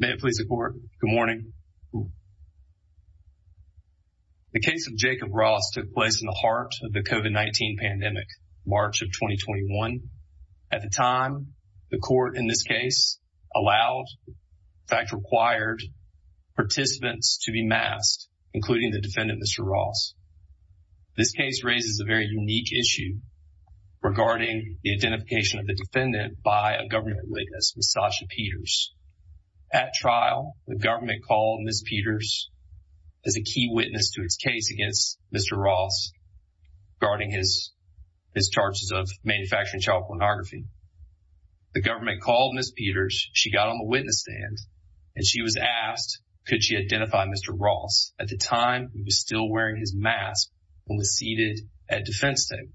May it please the court. Good morning. The case of Jacob Ross took place in the heart of the COVID-19 pandemic, March of 2021. At the time, the court in this case allowed, in fact required, participants to be masked, including the defendant, Mr. Ross. This case raises a very unique issue regarding the identification of the defendant by a government witness, Ms. Sasha Peters. At trial, the government called Ms. Peters as a key witness to its case against Mr. Ross regarding his charges of manufacturing child pornography. The government called Ms. Peters, she got on the witness stand, and she was asked could she identify Mr. Ross. At the time, he was still wearing his mask and was seated at defense table.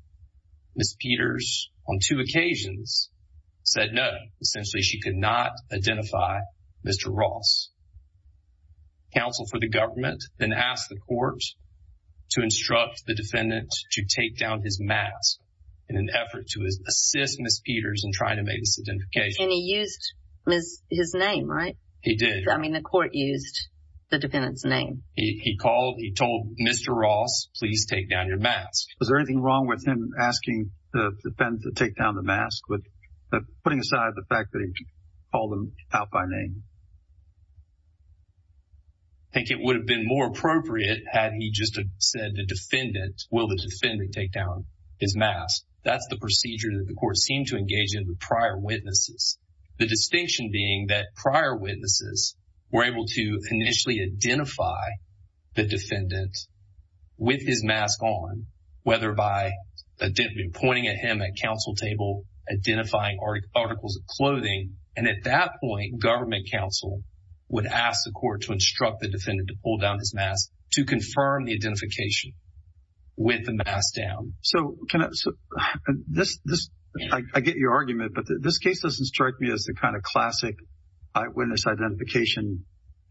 Ms. Peters, on two occasions, said no. Essentially, she could not identify Mr. Ross. Counsel for the government then asked the court to instruct the defendant to take down his mask in an effort to assist Ms. Peters in trying to make this identification. And he used his name, right? He did. I mean, the court used the defendant's name. He called, he told Mr. Ross, please take down your mask. Was there anything wrong with him asking the defendant to take down the mask, but putting aside the fact that he called them out by name? I think it would have been more appropriate had he just said the defendant, will the defendant take down his mask. That's the procedure that the court seemed to engage in with prior witnesses. The distinction being that prior witnesses were able to initially identify the defendant with his mask on, whether by pointing at him at counsel table, identifying articles of clothing. And at that point, government counsel would ask the court to instruct the defendant to pull down his mask to confirm the identification with the mask down. I get your argument, but this case doesn't strike me as the kind of classic eyewitness identification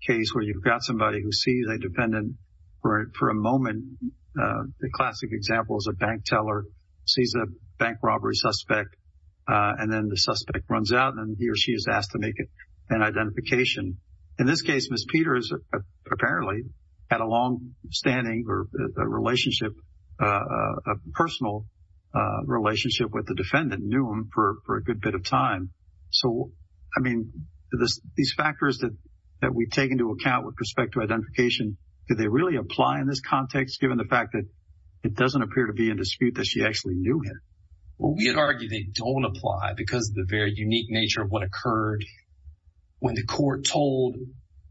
case where you've got somebody who sees a defendant for a moment. The classic example is a bank teller sees a bank robbery suspect and then the suspect runs out and he or she is asked to make an identification. In this case, Ms. Peters apparently had a long standing relationship, a personal relationship with the defendant, knew him for a good bit of time. So, I mean, these factors that we take into account with respect to identification, do they really apply in this context given the fact that it doesn't appear to be in dispute that she actually knew him? Well, we would argue they don't apply because of the very unique nature of what occurred when the court told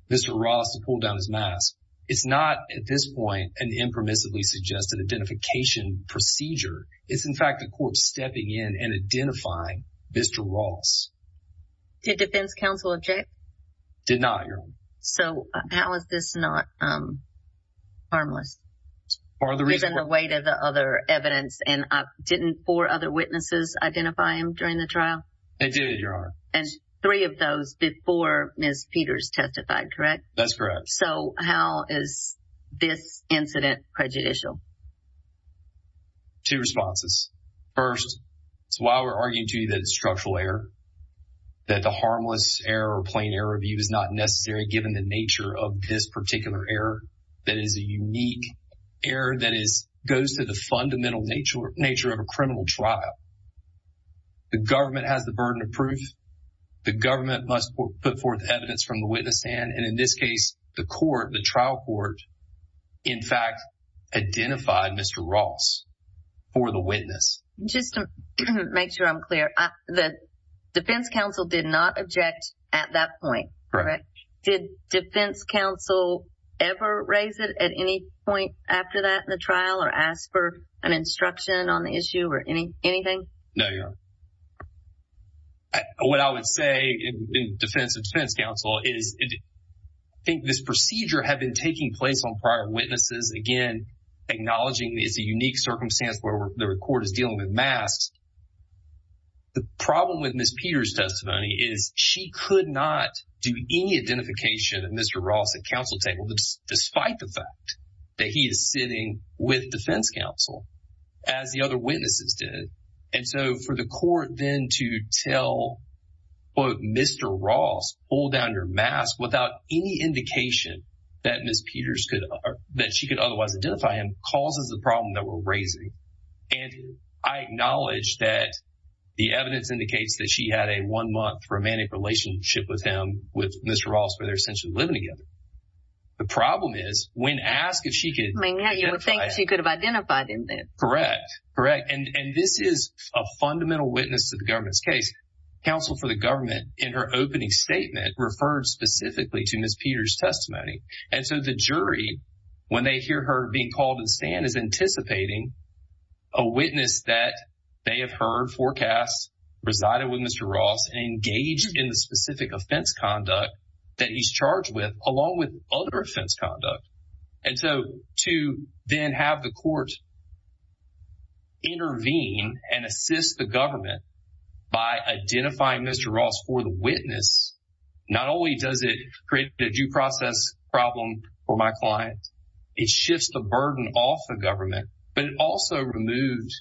Mr. Ross to pull down his mask. It's not at this point an impermissibly suggested identification procedure. It's, in fact, the court stepping in and identifying Mr. Ross. Did defense counsel object? Did not, Your Honor. So, how is this not harmless? Given the weight of the other evidence and didn't four other witnesses identify him during the trial? They did, Your Honor. And three of those before Ms. Peters testified, correct? That's correct. So, how is this incident prejudicial? Two responses. First, it's why we're arguing to you that it's structural error, that the harmless error or plain error view is not necessary given the nature of this particular error. That is a unique error that goes to the fundamental nature of a criminal trial. The government has the burden of proof. The government must put forth evidence from the court, the trial court, in fact, identified Mr. Ross for the witness. Just to make sure I'm clear, the defense counsel did not object at that point, correct? Did defense counsel ever raise it at any point after that in the trial or ask for an instruction on the issue or anything? No, Your Honor. What I would say in defense of defense counsel is I think this procedure had been taking place on prior witnesses, again, acknowledging it's a unique circumstance where the court is dealing with masks. The problem with Ms. Peters' testimony is she could not do any identification of Mr. Ross at counsel table despite the fact that he is sitting with defense counsel, as the other than to tell, quote, Mr. Ross, pull down your mask without any indication that Ms. Peters could, that she could otherwise identify him, causes the problem that we're raising. I acknowledge that the evidence indicates that she had a one-month romantic relationship with him, with Mr. Ross, where they're essentially living together. The problem is when asked if she could- I mean, you would think she could have identified him then. Correct. Correct. And this is a fundamental witness to the government's case. Counsel for the government, in her opening statement, referred specifically to Ms. Peters' testimony. And so the jury, when they hear her being called to stand, is anticipating a witness that they have heard, forecast, resided with Mr. Ross, engaged in the specific offense conduct that he's charged with, along with other offense conduct. And so to then have the intervene and assist the government by identifying Mr. Ross for the witness, not only does it create a due process problem for my client, it shifts the burden off the government, but it also removed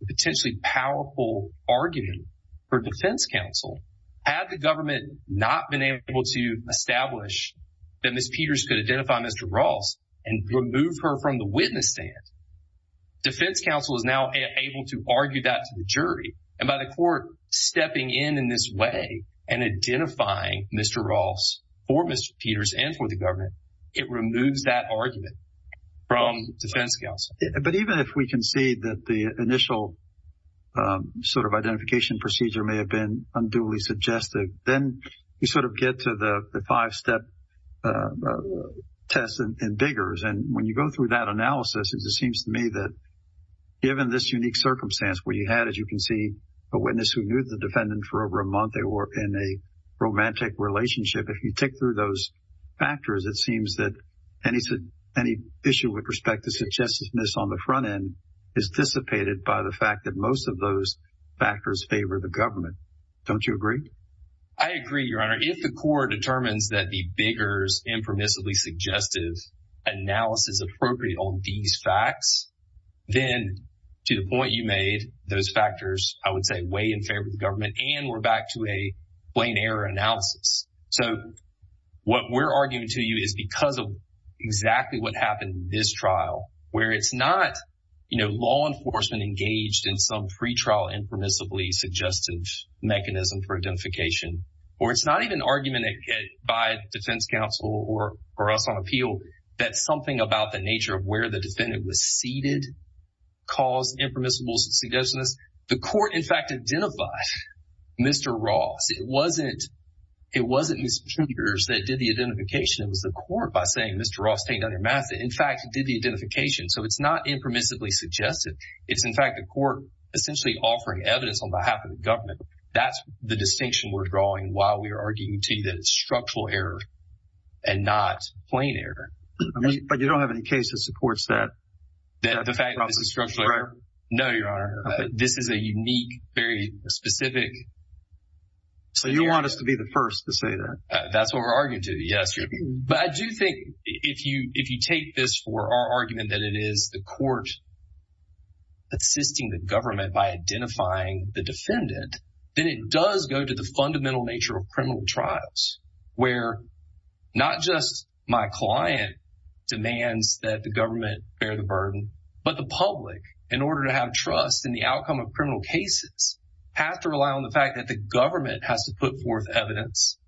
the potentially powerful argument for defense counsel. Had the government not been able to establish that Ms. Peters could identify Mr. Ross and remove her from the witness stand, defense counsel is now able to argue that to the jury. And by the court stepping in in this way and identifying Mr. Ross for Ms. Peters and for the government, it removes that argument from defense counsel. But even if we can see that the initial sort of identification procedure may have been unduly suggestive, then you sort of get to the it seems to me that given this unique circumstance where you had, as you can see, a witness who knew the defendant for over a month, they were in a romantic relationship. If you tick through those factors, it seems that any issue with respect to suggestiveness on the front end is dissipated by the fact that most of those factors favor the government. Don't you agree? I agree, Your Honor. If the court determines that the bigger's impermissibly suggestive analysis appropriate on these facts, then to the point you made, those factors, I would say, weigh in favor of the government and we're back to a plain error analysis. So, what we're arguing to you is because of exactly what happened in this trial, where it's not, you know, law enforcement engaged in some pretrial impermissibly suggestive mechanism for identification, or it's not even argument by defense counsel or us on appeal, that something about the nature of where the defendant was seated caused impermissible suggestiveness. The court, in fact, identified Mr. Ross. It wasn't Ms. Peters that did the identification. It was the court by saying, Mr. Ross, take down your mask. In fact, did the identification. So, it's not impermissibly suggestive. It's, in fact, the court essentially offering evidence on behalf of the government. That's the distinction we're drawing while we are arguing to you that it's structural error and not plain error. I mean, but you don't have any case that supports that. That the fact that this is structural error? No, Your Honor. This is a unique, very specific scenario. So, you want us to be the first to say that? That's what we're arguing to, yes. But I do think if you take this for our argument that it is the defendant, then it does go to the fundamental nature of criminal trials, where not just my client demands that the government bear the burden, but the public, in order to have trust in the outcome of criminal cases, have to rely on the fact that the government has to put forth evidence,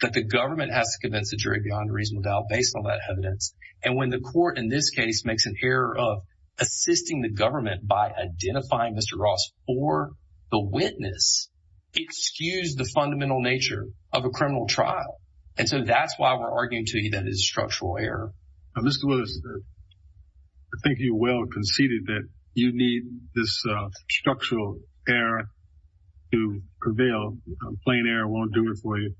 that the government has to convince the jury beyond reasonable doubt based on that evidence. And when the court in this case makes an error of assisting the government by identifying Mr. Ross for the witness, it skews the fundamental nature of a criminal trial. And so, that's why we're arguing to you that it's structural error. Now, Mr. Willis, I think you well conceded that you need this structural error to prevail. Plain error won't do it for you.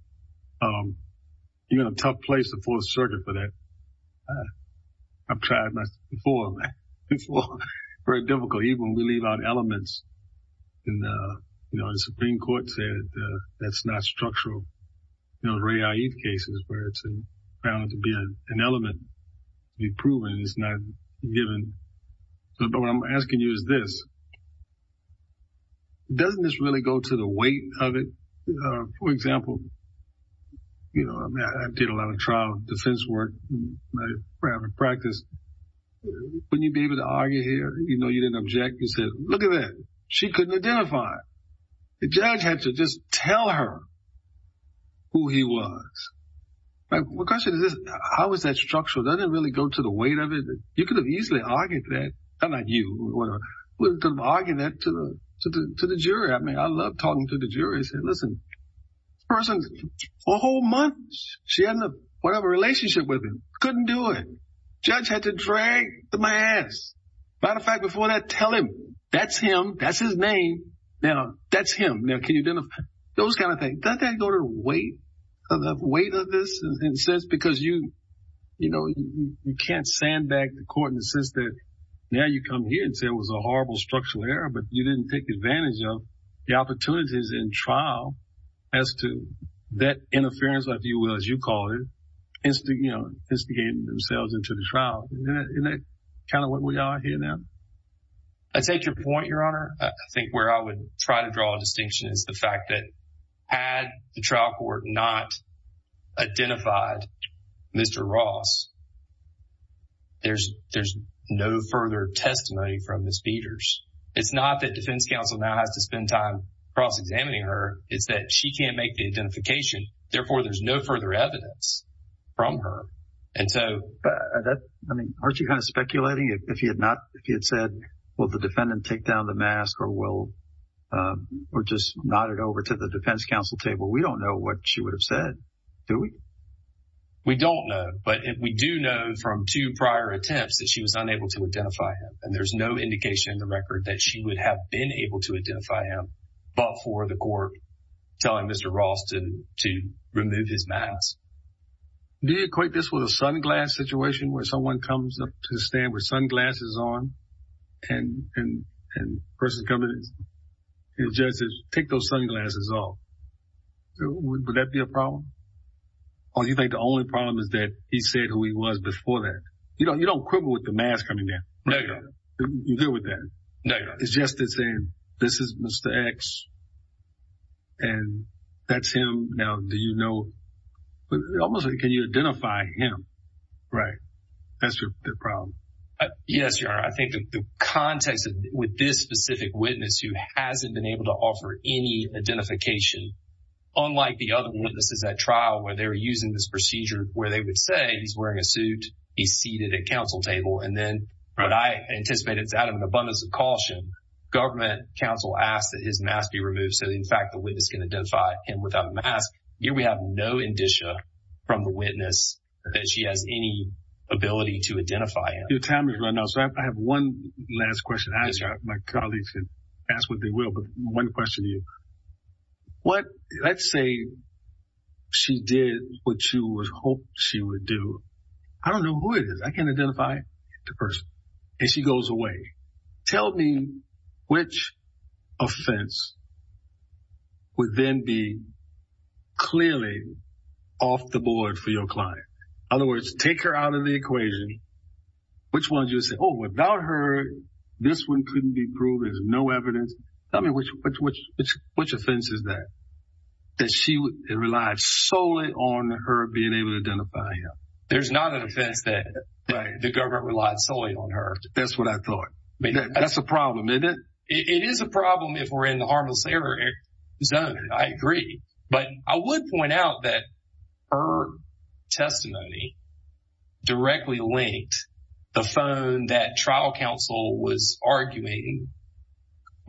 You're in a tough place to pull the circuit for that. I've tried that before. It's very difficult, even when we leave out elements. And, you know, the Supreme Court said that's not structural. You know, the Ray Eid cases where it's found to be an element to be proven, it's not given. But what I'm asking you is this. Doesn't this really go to the weight of it? For example, you know, I did a lot of trial defense work in my private practice. Wouldn't you be able to argue here? You know, you didn't object. You said, look at that. She couldn't identify. The judge had to just tell her who he was. My question is this. How is that structural? Doesn't it really go to the weight of it? You could have easily argued that. Not you, whatever. You could have argued that to the jury. I mean, I love talking to the jury and say, listen, this person, for a whole month, she had whatever relationship with him. Couldn't do it. Judge had to drag my ass. Matter of fact, before that, tell him, that's him. That's his name. Now, that's him. Now, can you identify? Those kind of things. Doesn't that go to the weight of this in a sense? Because, you know, you can't stand back to court in the sense that now you come here and say it was a horrible structural error, but you didn't take advantage of the opportunities in trial as to that interference, if you will, as you call it, instigating themselves into the trial. Isn't that kind of what we are here now? I take your point, Your Honor. I think where I would try to draw a distinction is the fact that had the trial court not identified Mr. Ross, there's no further testimony from Ms. Peters. It's not that defense counsel now has to spend time cross-examining her. It's that she can't make the identification. Therefore, there's no further evidence from her. Aren't you kind of speculating if he had said, will the defendant take down the mask or just nod it over to the defense counsel table? We don't know what she would have said, do we? We don't know. But we do know from two prior attempts that she was unable to identify him, and there's no indication in the record that she would have been able to identify him but for the court telling Mr. Ross to remove his mask. Do you equate this with a sunglass situation where someone comes up to the stand with sunglasses on and the person coming in, the judge says, take those sunglasses off? Would that be a problem? Or do you think the only problem is that he said who he was before that? You don't quibble with the mask coming down. You're good with that? No, Your Honor. It's just the same. This is Mr. X and that's him. Now, do you know, almost like, can you identify him? Right. That's the problem. Yes, Your Honor. I think the context with this specific witness who hasn't been able to offer any identification, unlike the other witnesses at trial where they were using this procedure where they would say he's wearing a suit, he's seated at counsel table, and then I anticipate it's out of an abundance of caution, government counsel asked that his mask be removed so that in fact the witness can identify him without a mask. Here we have no indicia from the witness that she has any ability to identify him. Your time is running out. So I have one last question. My colleagues can ask what they will, but one question to you. Let's say she did what you hoped she would do. I don't know who it is. I can't identify the person. And she goes away. Tell me which offense would then be clearly off the board for your client. In other words, take her out of the equation. Which one would you say, oh, without her, this one couldn't be proved. There's no evidence. Tell me which offense is that, that she relied solely on her being able to identify him. There's not an offense that the government relied solely on her. That's what I thought. That's a problem, isn't it? It is a problem if we're in the harmless zone. I agree. But I would point out that her testimony directly linked the phone that trial counsel was arguing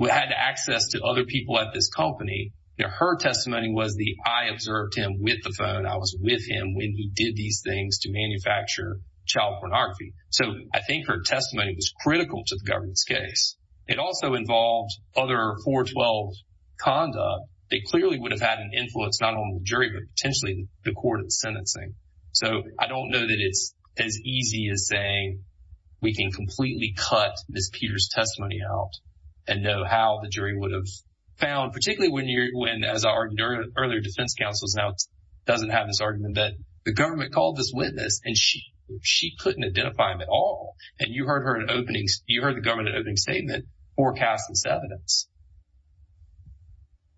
had access to other people at this company. Her testimony was the I observed him with the phone. I was with him when he did these things to manufacture child pornography. So, I think her testimony was critical to the government's case. It also involved other 412 conduct. They clearly would have had an influence, not on the jury, but potentially the court in sentencing. So, I don't know that it's as easy as saying we can completely cut Ms. Peter's testimony out and know how the jury would have found, particularly when, as our earlier defense counsel's notes, doesn't have this argument that the government called this witness and she couldn't identify him at all. And you heard her in openings. You heard the government opening statement forecast this evidence.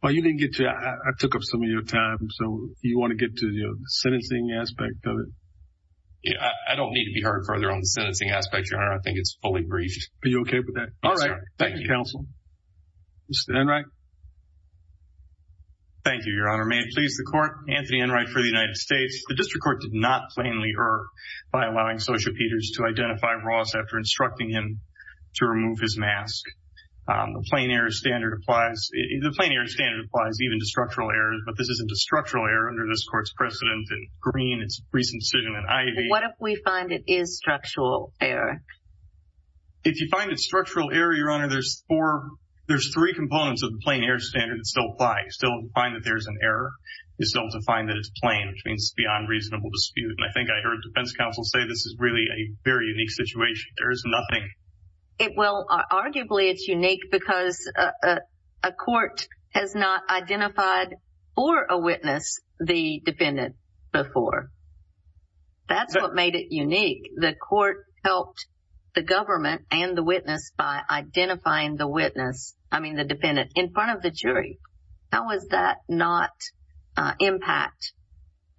Well, you didn't get to, I took up some of your time. So, you want to get to the sentencing aspect of it? I don't need to be heard further on the sentencing aspect, your honor. I think it's fully briefed. Are you okay with that? All right. Thank you, counsel. Mr. Enright. Thank you, your honor. May it please the court. Anthony Enright for the United States. The district court did not plainly err by allowing Associate Peters to identify Ross after instructing him to remove his mask. The plain error standard applies, the plain error standard applies even to structural errors, but this isn't a structural error under this court's precedent in Green, its recent decision in Ivey. What if we find it is structural error? If you find it structural error, your honor, there's four, there's three components of the plain error standard that still apply. Still find that there's an error. You still have to find that it's plain, which means it's beyond reasonable dispute. And I think I heard defense counsel say this is really a very unique situation. There is nothing. It will, arguably, it's unique because a court has not identified for a witness the defendant before. That's what made it unique. The court helped the government and the witness by identifying the witness, I mean the jury. How does that not impact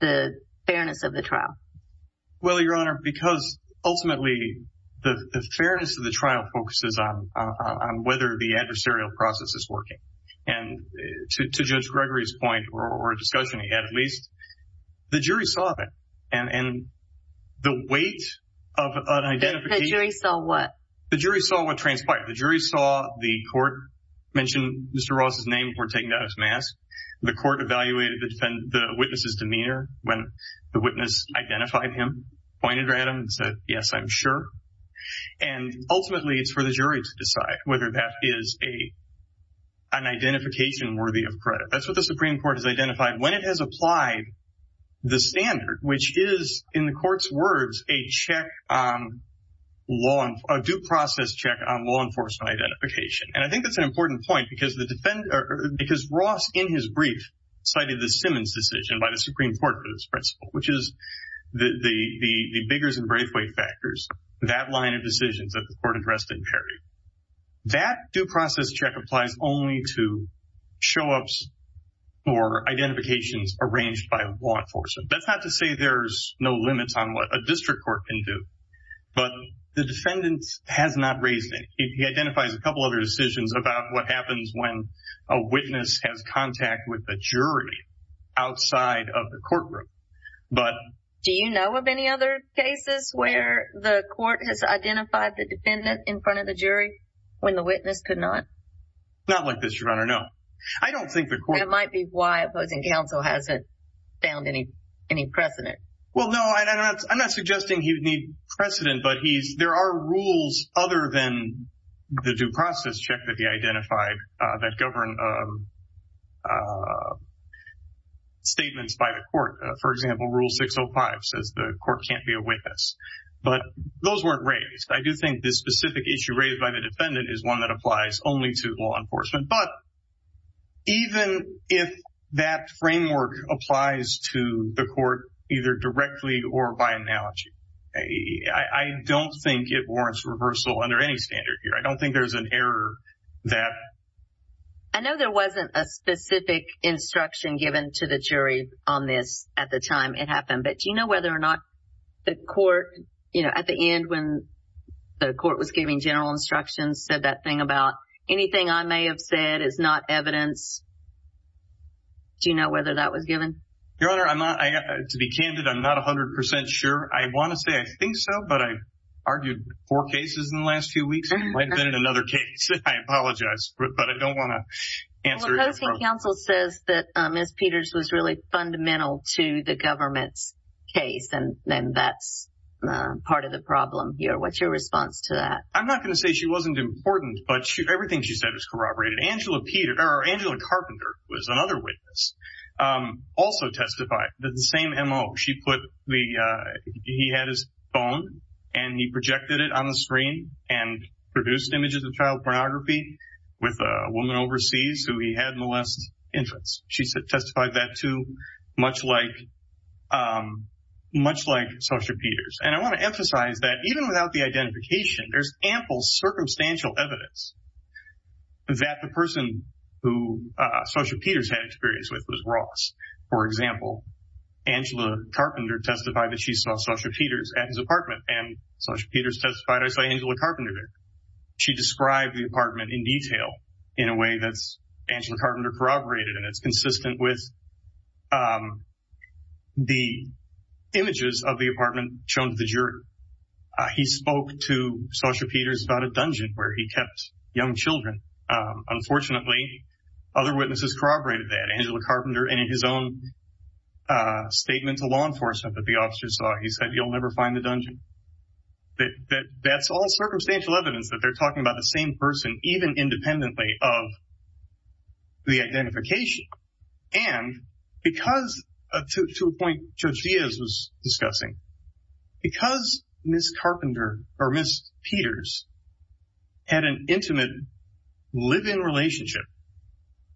the fairness of the trial? Well, your honor, because ultimately the fairness of the trial focuses on whether the adversarial process is working. And to Judge Gregory's point, or discussion he had at least, the jury saw that. And the weight of an identification. The jury saw what? The jury saw what transpired. The jury saw the court mention Mr. Ross' name before taking off his mask. The court evaluated the witness' demeanor when the witness identified him, pointed at him, and said, yes, I'm sure. And ultimately, it's for the jury to decide whether that is an identification worthy of credit. That's what the Supreme Court has identified. When it has applied the standard, which is, in the court's words, a check, a due process check on law enforcement identification. And I think that's an important point because Ross, in his brief, cited the Simmons decision by the Supreme Court for this principle, which is the Biggers and Braithwaite factors, that line of decisions that the court addressed in Perry. That due process check applies only to show-ups or identifications arranged by law enforcement. That's not to say there's no limits on what a district court can do. But the defendant has not raised it. He identifies a couple other decisions about what happens when a witness has contact with the jury outside of the courtroom. But... Do you know of any other cases where the court has identified the defendant in front of the jury when the witness could not? Not like this, Your Honor, no. I don't think the court... That might be why opposing counsel hasn't found any precedent. Well, no, I'm not suggesting he'd need precedent, but there are rules other than the due process check that he identified that govern statements by the court. For example, Rule 605 says the court can't be a witness. But those weren't raised. I do think this specific issue raised by the defendant is one that applies only to law either directly or by analogy. I don't think it warrants reversal under any standard here. I don't think there's an error that... I know there wasn't a specific instruction given to the jury on this at the time it happened. But do you know whether or not the court, you know, at the end when the court was giving general instructions, said that thing about anything I may have said is not evidence? Do you know whether that was given? Your Honor, to be candid, I'm not 100% sure. I want to say I think so, but I've argued four cases in the last few weeks. It might have been in another case. I apologize, but I don't want to answer it. Opposing counsel says that Ms. Peters was really fundamental to the government's case, and then that's part of the problem here. What's your response to that? I'm not going to say she wasn't important, but everything she said was corroborated. Angela Peters, or Angela Carpenter was another witness. Also testified that the same M.O. She put the... He had his phone and he projected it on the screen and produced images of child pornography with a woman overseas who he had molest infants. She testified that too, much like Social Peters. And I want to emphasize that even without the identification, there's ample circumstantial evidence that the person who Social Peters had experience with was Ross. For example, Angela Carpenter testified that she saw Social Peters at his apartment, and Social Peters testified, I saw Angela Carpenter there. She described the apartment in detail in a way that's Angela Carpenter corroborated, and it's consistent with the images of the apartment shown to the juror. He spoke to Social Peters about a dungeon where he kept young children. Unfortunately, other witnesses corroborated that. Angela Carpenter, in his own statement to law enforcement that the officers saw, he said, you'll never find the dungeon. That's all circumstantial evidence that they're talking about the same person, even independently of the identification. And because, to a point Judge Diaz was discussing, because Ms. Carpenter or Ms. Peters had an intimate, live-in relationship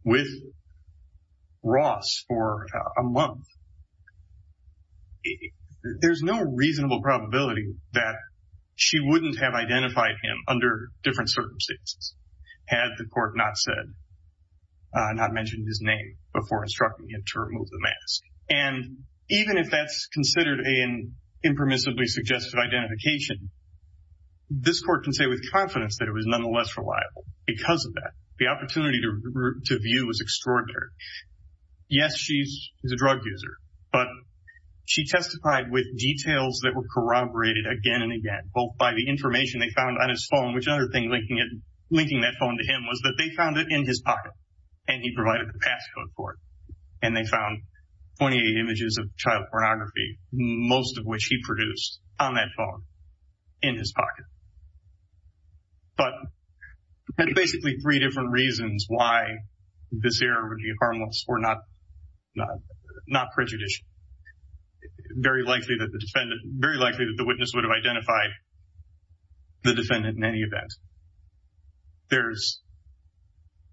with Ross for a month, there's no reasonable probability that she wouldn't have identified him under different circumstances had the court not mentioned his name before instructing him to remove the mask. And even if that's considered an impermissibly suggested identification, this court can say with confidence that it was nonetheless reliable because of that. The opportunity to view was extraordinary. Yes, she's a drug user, but she testified with details that were corroborated again and again, both by the information they found on his phone, which another thing linking that phone to him was that they found it in his pocket, and he provided the passcode for it. And they found 28 images of child pornography, most of which he produced on that phone in his pocket. But there are basically three different reasons why this error would be harmless or not prejudicial. It's very likely that the witness would have identified the defendant in any event. There's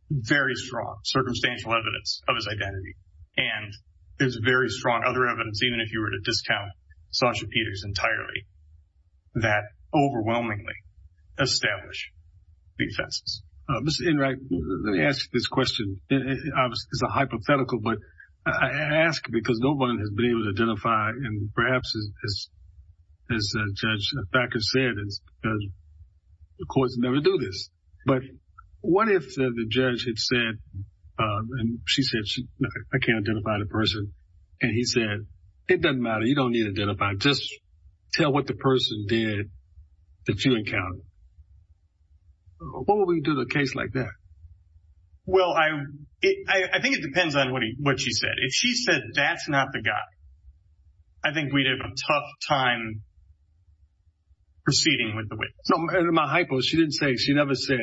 very strong circumstantial evidence of his identity, and there's very strong other evidence, even if you were to discount Sasha Peters entirely, that overwhelmingly establish the offenses. Mr. Enright, let me ask you this question. Obviously, it's a hypothetical, but I ask because no one has been able to identify, and perhaps, as Judge Thacker said, the courts never do this. But what if the judge had said, and she said, I can't identify the person, and he said, it doesn't matter, you don't need to identify, just tell what the person did that you encountered. What would we do to a case like that? Well, I think it depends on what she said. If she said, that's not the guy, I think we'd have a tough time proceeding with the witness. No, and in my hypo, she didn't say, she never said,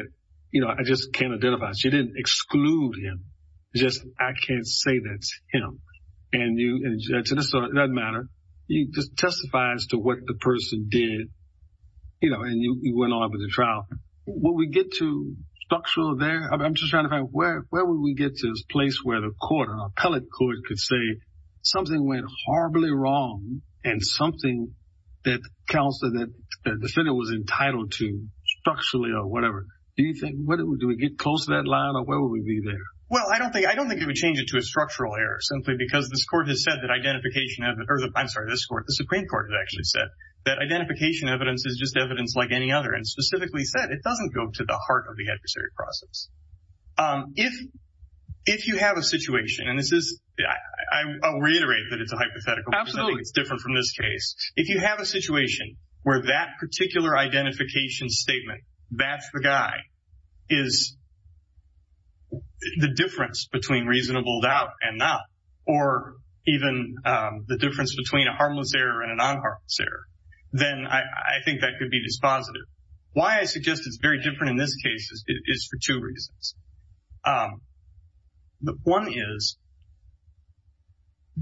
you know, I just can't identify. She didn't exclude him, just, I can't say that's him. And you, it doesn't matter, you just testify as to what the person did, you know, and you went on with the trial. Will we get to structural there? I'm just trying to find, where would we get to this place where the court, an appellate court could say, something went horribly wrong, and something that counsel, that the defendant was entitled to, structurally or whatever. Do you think, do we get close to that line, or where would we be there? Well, I don't think it would change it to a structural error, simply because this court has said that identification, or I'm sorry, this court, the Supreme Court has actually said, that identification evidence is just evidence like any other, and specifically said, it doesn't go to the heart of the adversary process. If you have a situation, and this is, I'll reiterate that it's a hypothetical. Absolutely. It's different from this case. If you have a situation where that particular identification statement, that's the guy, is the difference between reasonable doubt and not, or even the difference between a then I think that could be dispositive. Why I suggest it's very different in this case is for two reasons. One is,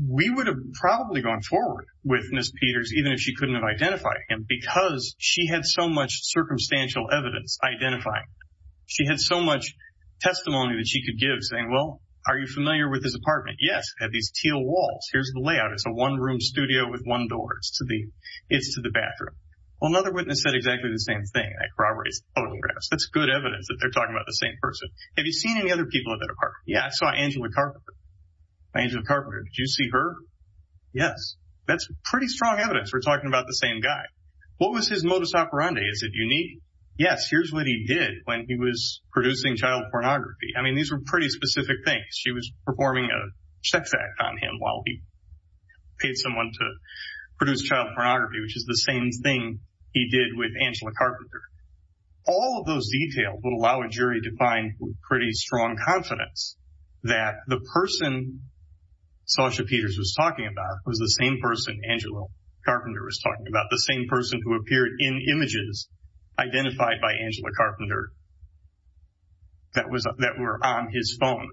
we would have probably gone forward with Ms. Peters, even if she couldn't have identified him, because she had so much circumstantial evidence identifying him. She had so much testimony that she could give, saying, well, are you familiar with this apartment? Yes, it had these teal walls. Here's the layout. It's a one-room studio with one door. It's to the bathroom. Well, another witness said exactly the same thing. I corroborate his photographs. That's good evidence that they're talking about the same person. Have you seen any other people at that apartment? Yeah, I saw Angela Carpenter. Angela Carpenter, did you see her? Yes. That's pretty strong evidence we're talking about the same guy. What was his modus operandi? Is it unique? Yes, here's what he did when he was producing child pornography. I mean, these were pretty specific things. She was performing a sex act on him while he paid someone to produce child pornography, which is the same thing he did with Angela Carpenter. All of those details would allow a jury to find pretty strong confidence that the person Sasha Peters was talking about was the same person Angela Carpenter was talking about, the same person who appeared in images identified by Angela Carpenter that were on his phone.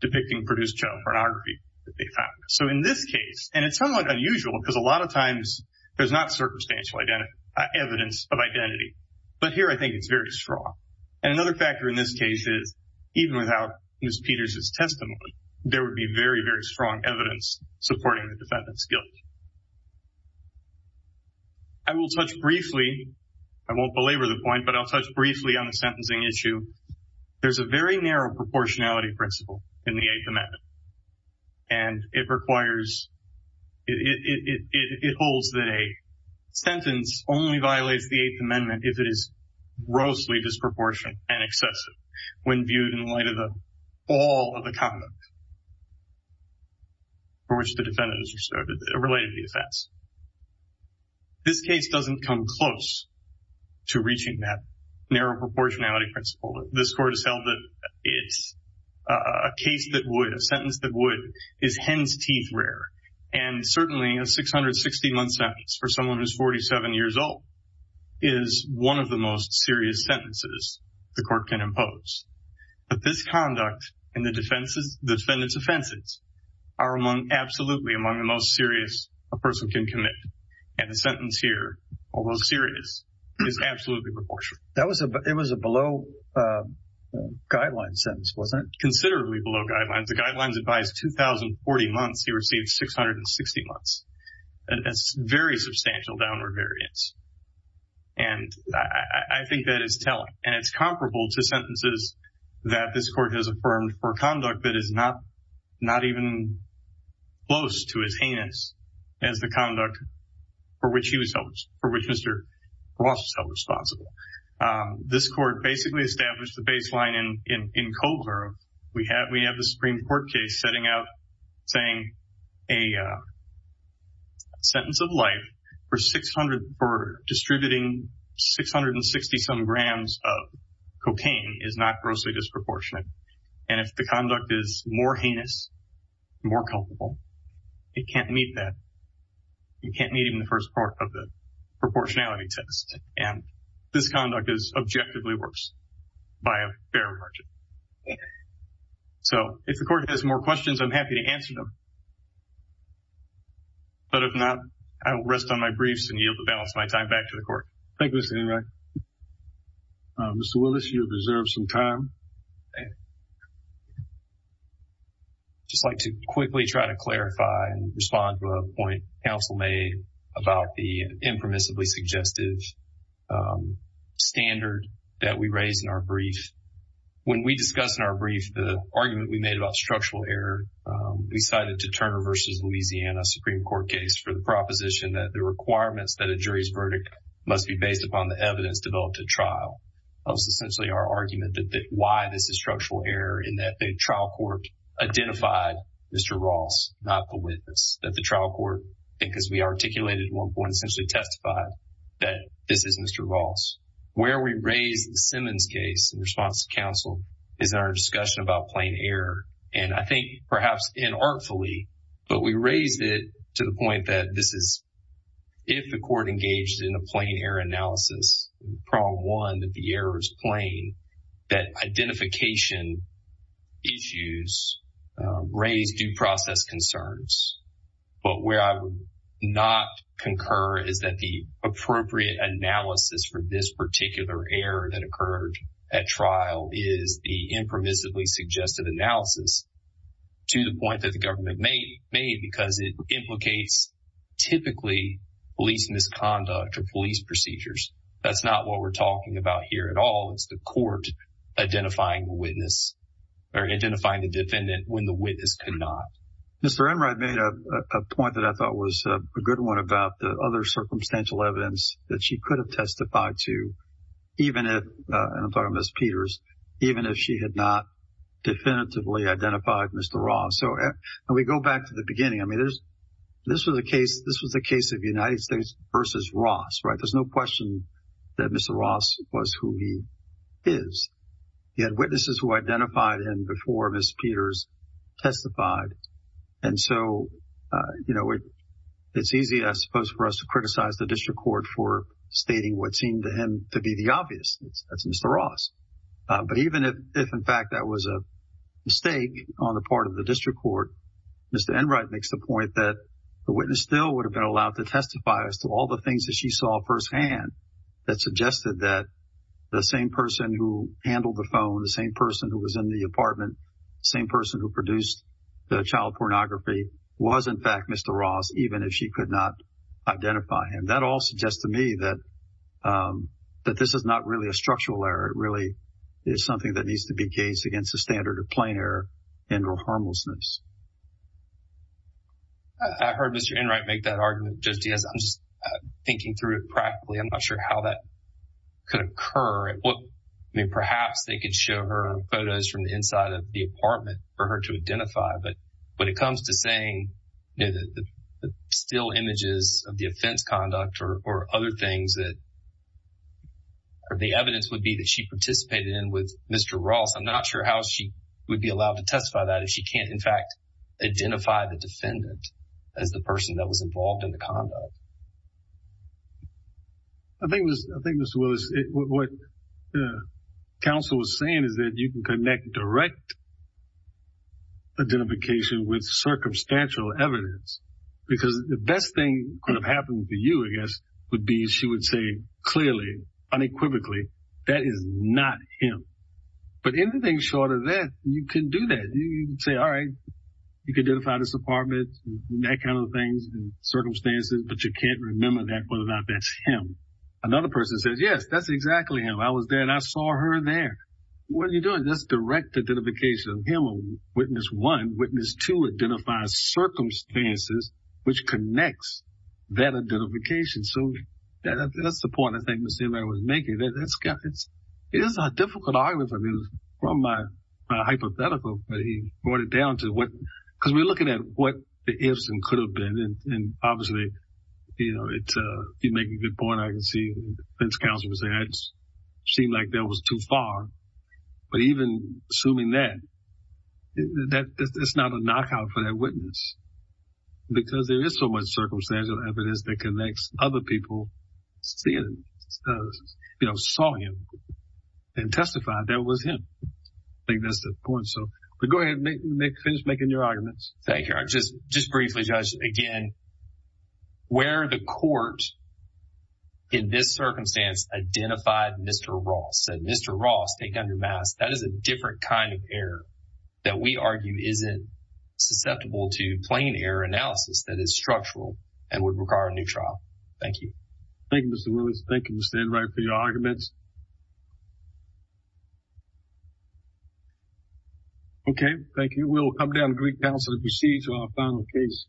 Depicting produced child pornography that they found. So in this case, and it's somewhat unusual because a lot of times there's not circumstantial evidence of identity. But here I think it's very strong. And another factor in this case is even without Ms. Peters' testimony, there would be very, very strong evidence supporting the defendant's guilt. I will touch briefly, I won't belabor the point, but I'll touch briefly on the sentencing issue. There's a very narrow proportionality principle in the Eighth Amendment. And it requires, it holds that a sentence only violates the Eighth Amendment if it is grossly disproportionate and excessive when viewed in light of the fall of the conduct for which the defendant is reserved, related to the offense. This case doesn't come close to reaching that narrow proportionality principle. This court has held that it's a case that would, a sentence that would, is hen's teeth rare. And certainly a 660-month sentence for someone who's 47 years old is one of the most serious sentences the court can impose. But this conduct and the defendant's offenses are absolutely among the most serious a person can commit. And the sentence here, although serious, is absolutely proportionate. That was a, it was a below guidelines sentence, wasn't it? Considerably below guidelines. The guidelines advise 2,040 months. He received 660 months. And that's very substantial downward variance. And I think that is telling. And it's comparable to sentences that this court has affirmed for conduct that is not, not even close to as heinous as the conduct for which he was held responsible, for which Mr. Ross was held responsible. This court basically established the baseline in Cobler. We have, we have the Supreme Court case setting out saying a sentence of life for 600, for distributing 660-some grams of cocaine is not grossly disproportionate. And if the conduct is more heinous, more culpable, it can't meet that. You can't meet even the first part of the proportionality test. And this conduct is objectively worse by a fair margin. So if the court has more questions, I'm happy to answer them. But if not, I will rest on my briefs and yield the balance of my time back to the court. Thank you, Mr. Enright. Mr. Willis, you deserve some time. Just like to quickly try to clarify and respond to a point counsel made about the impermissibly suggestive standard that we raised in our brief. When we discuss in our brief the argument we made about structural error, we cited to Turner versus Louisiana Supreme Court case for the proposition that the based upon the evidence developed at trial. That was essentially our argument that why this is structural error in that the trial court identified Mr. Ross, not the witness. That the trial court, because we articulated one point, essentially testified that this is Mr. Ross. Where we raised the Simmons case in response to counsel is in our discussion about plain error. And I think perhaps inartfully, but we raised it to the point that this is, if the court engaged in a plain error analysis, problem one, that the error is plain, that identification issues raise due process concerns. But where I would not concur is that the appropriate analysis for this particular error that occurred at trial is the impermissibly suggestive analysis to the point that the police misconduct or police procedures. That's not what we're talking about here at all. It's the court identifying the witness or identifying the defendant when the witness could not. Mr. Enright made a point that I thought was a good one about the other circumstantial evidence that she could have testified to, even if, and I'm talking about Ms. Peters, even if she had not definitively identified Mr. Ross. And we go back to the beginning. I mean, this was a case of United States versus Ross, right? There's no question that Mr. Ross was who he is. He had witnesses who identified him before Ms. Peters testified. And so, you know, it's easy, I suppose, for us to criticize the district court for stating what seemed to him to be the obvious. That's Mr. Ross. But even if, in fact, that was a mistake on the part of the district court, Mr. Enright makes the point that the witness still would have been allowed to testify as to all the things that she saw firsthand that suggested that the same person who handled the phone, the same person who was in the apartment, the same person who produced the child pornography was, in fact, Mr. Ross, even if she could not identify him. That all suggests to me that this is not really a structural error. It really is something that needs to be gauged against the standard of plain error and or harmlessness. I heard Mr. Enright make that argument, Judge Diaz. I'm just thinking through it practically. I'm not sure how that could occur. I mean, perhaps they could show her photos from the inside of the apartment for her to or other things that the evidence would be that she participated in with Mr. Ross. I'm not sure how she would be allowed to testify that if she can't, in fact, identify the defendant as the person that was involved in the conduct. I think this was what the counsel was saying is that you can connect direct identification with circumstantial evidence because the best thing could have happened for you, I guess, would be she would say clearly, unequivocally, that is not him. But anything short of that, you can do that. You can say, all right, you can identify this apartment, that kind of thing, circumstances, but you can't remember that, whether or not that's him. Another person says, yes, that's exactly him. I was there and I saw her there. What are you doing? That's direct identification of him or witness one. Witness two identifies circumstances, which connects that identification. So that's the point, I think, Ms. Zimmer was making. It is a difficult argument from my hypothetical, but he brought it down to what, because we're looking at what the ifs and could have been. And obviously, you know, you make a good point. I can see the defense counsel was saying it seemed like that was too far. But even assuming that it's not a knockout for that witness, because there is so much circumstantial evidence that connects other people seeing those, you know, saw him and testified that was him. I think that's the point. So go ahead and finish making your arguments. Thank you. Just briefly, Judge, again, where the court in this circumstance identified Mr. Ross, said Mr. Ross take under mass. That is a different kind of error that we argue isn't susceptible to plain error analysis that is structural and would require a new trial. Thank you. Thank you, Mr. Lewis. Thank you, Mr. Enright, for your arguments. OK, thank you. We'll come down to Greek Council to proceed to our final case next.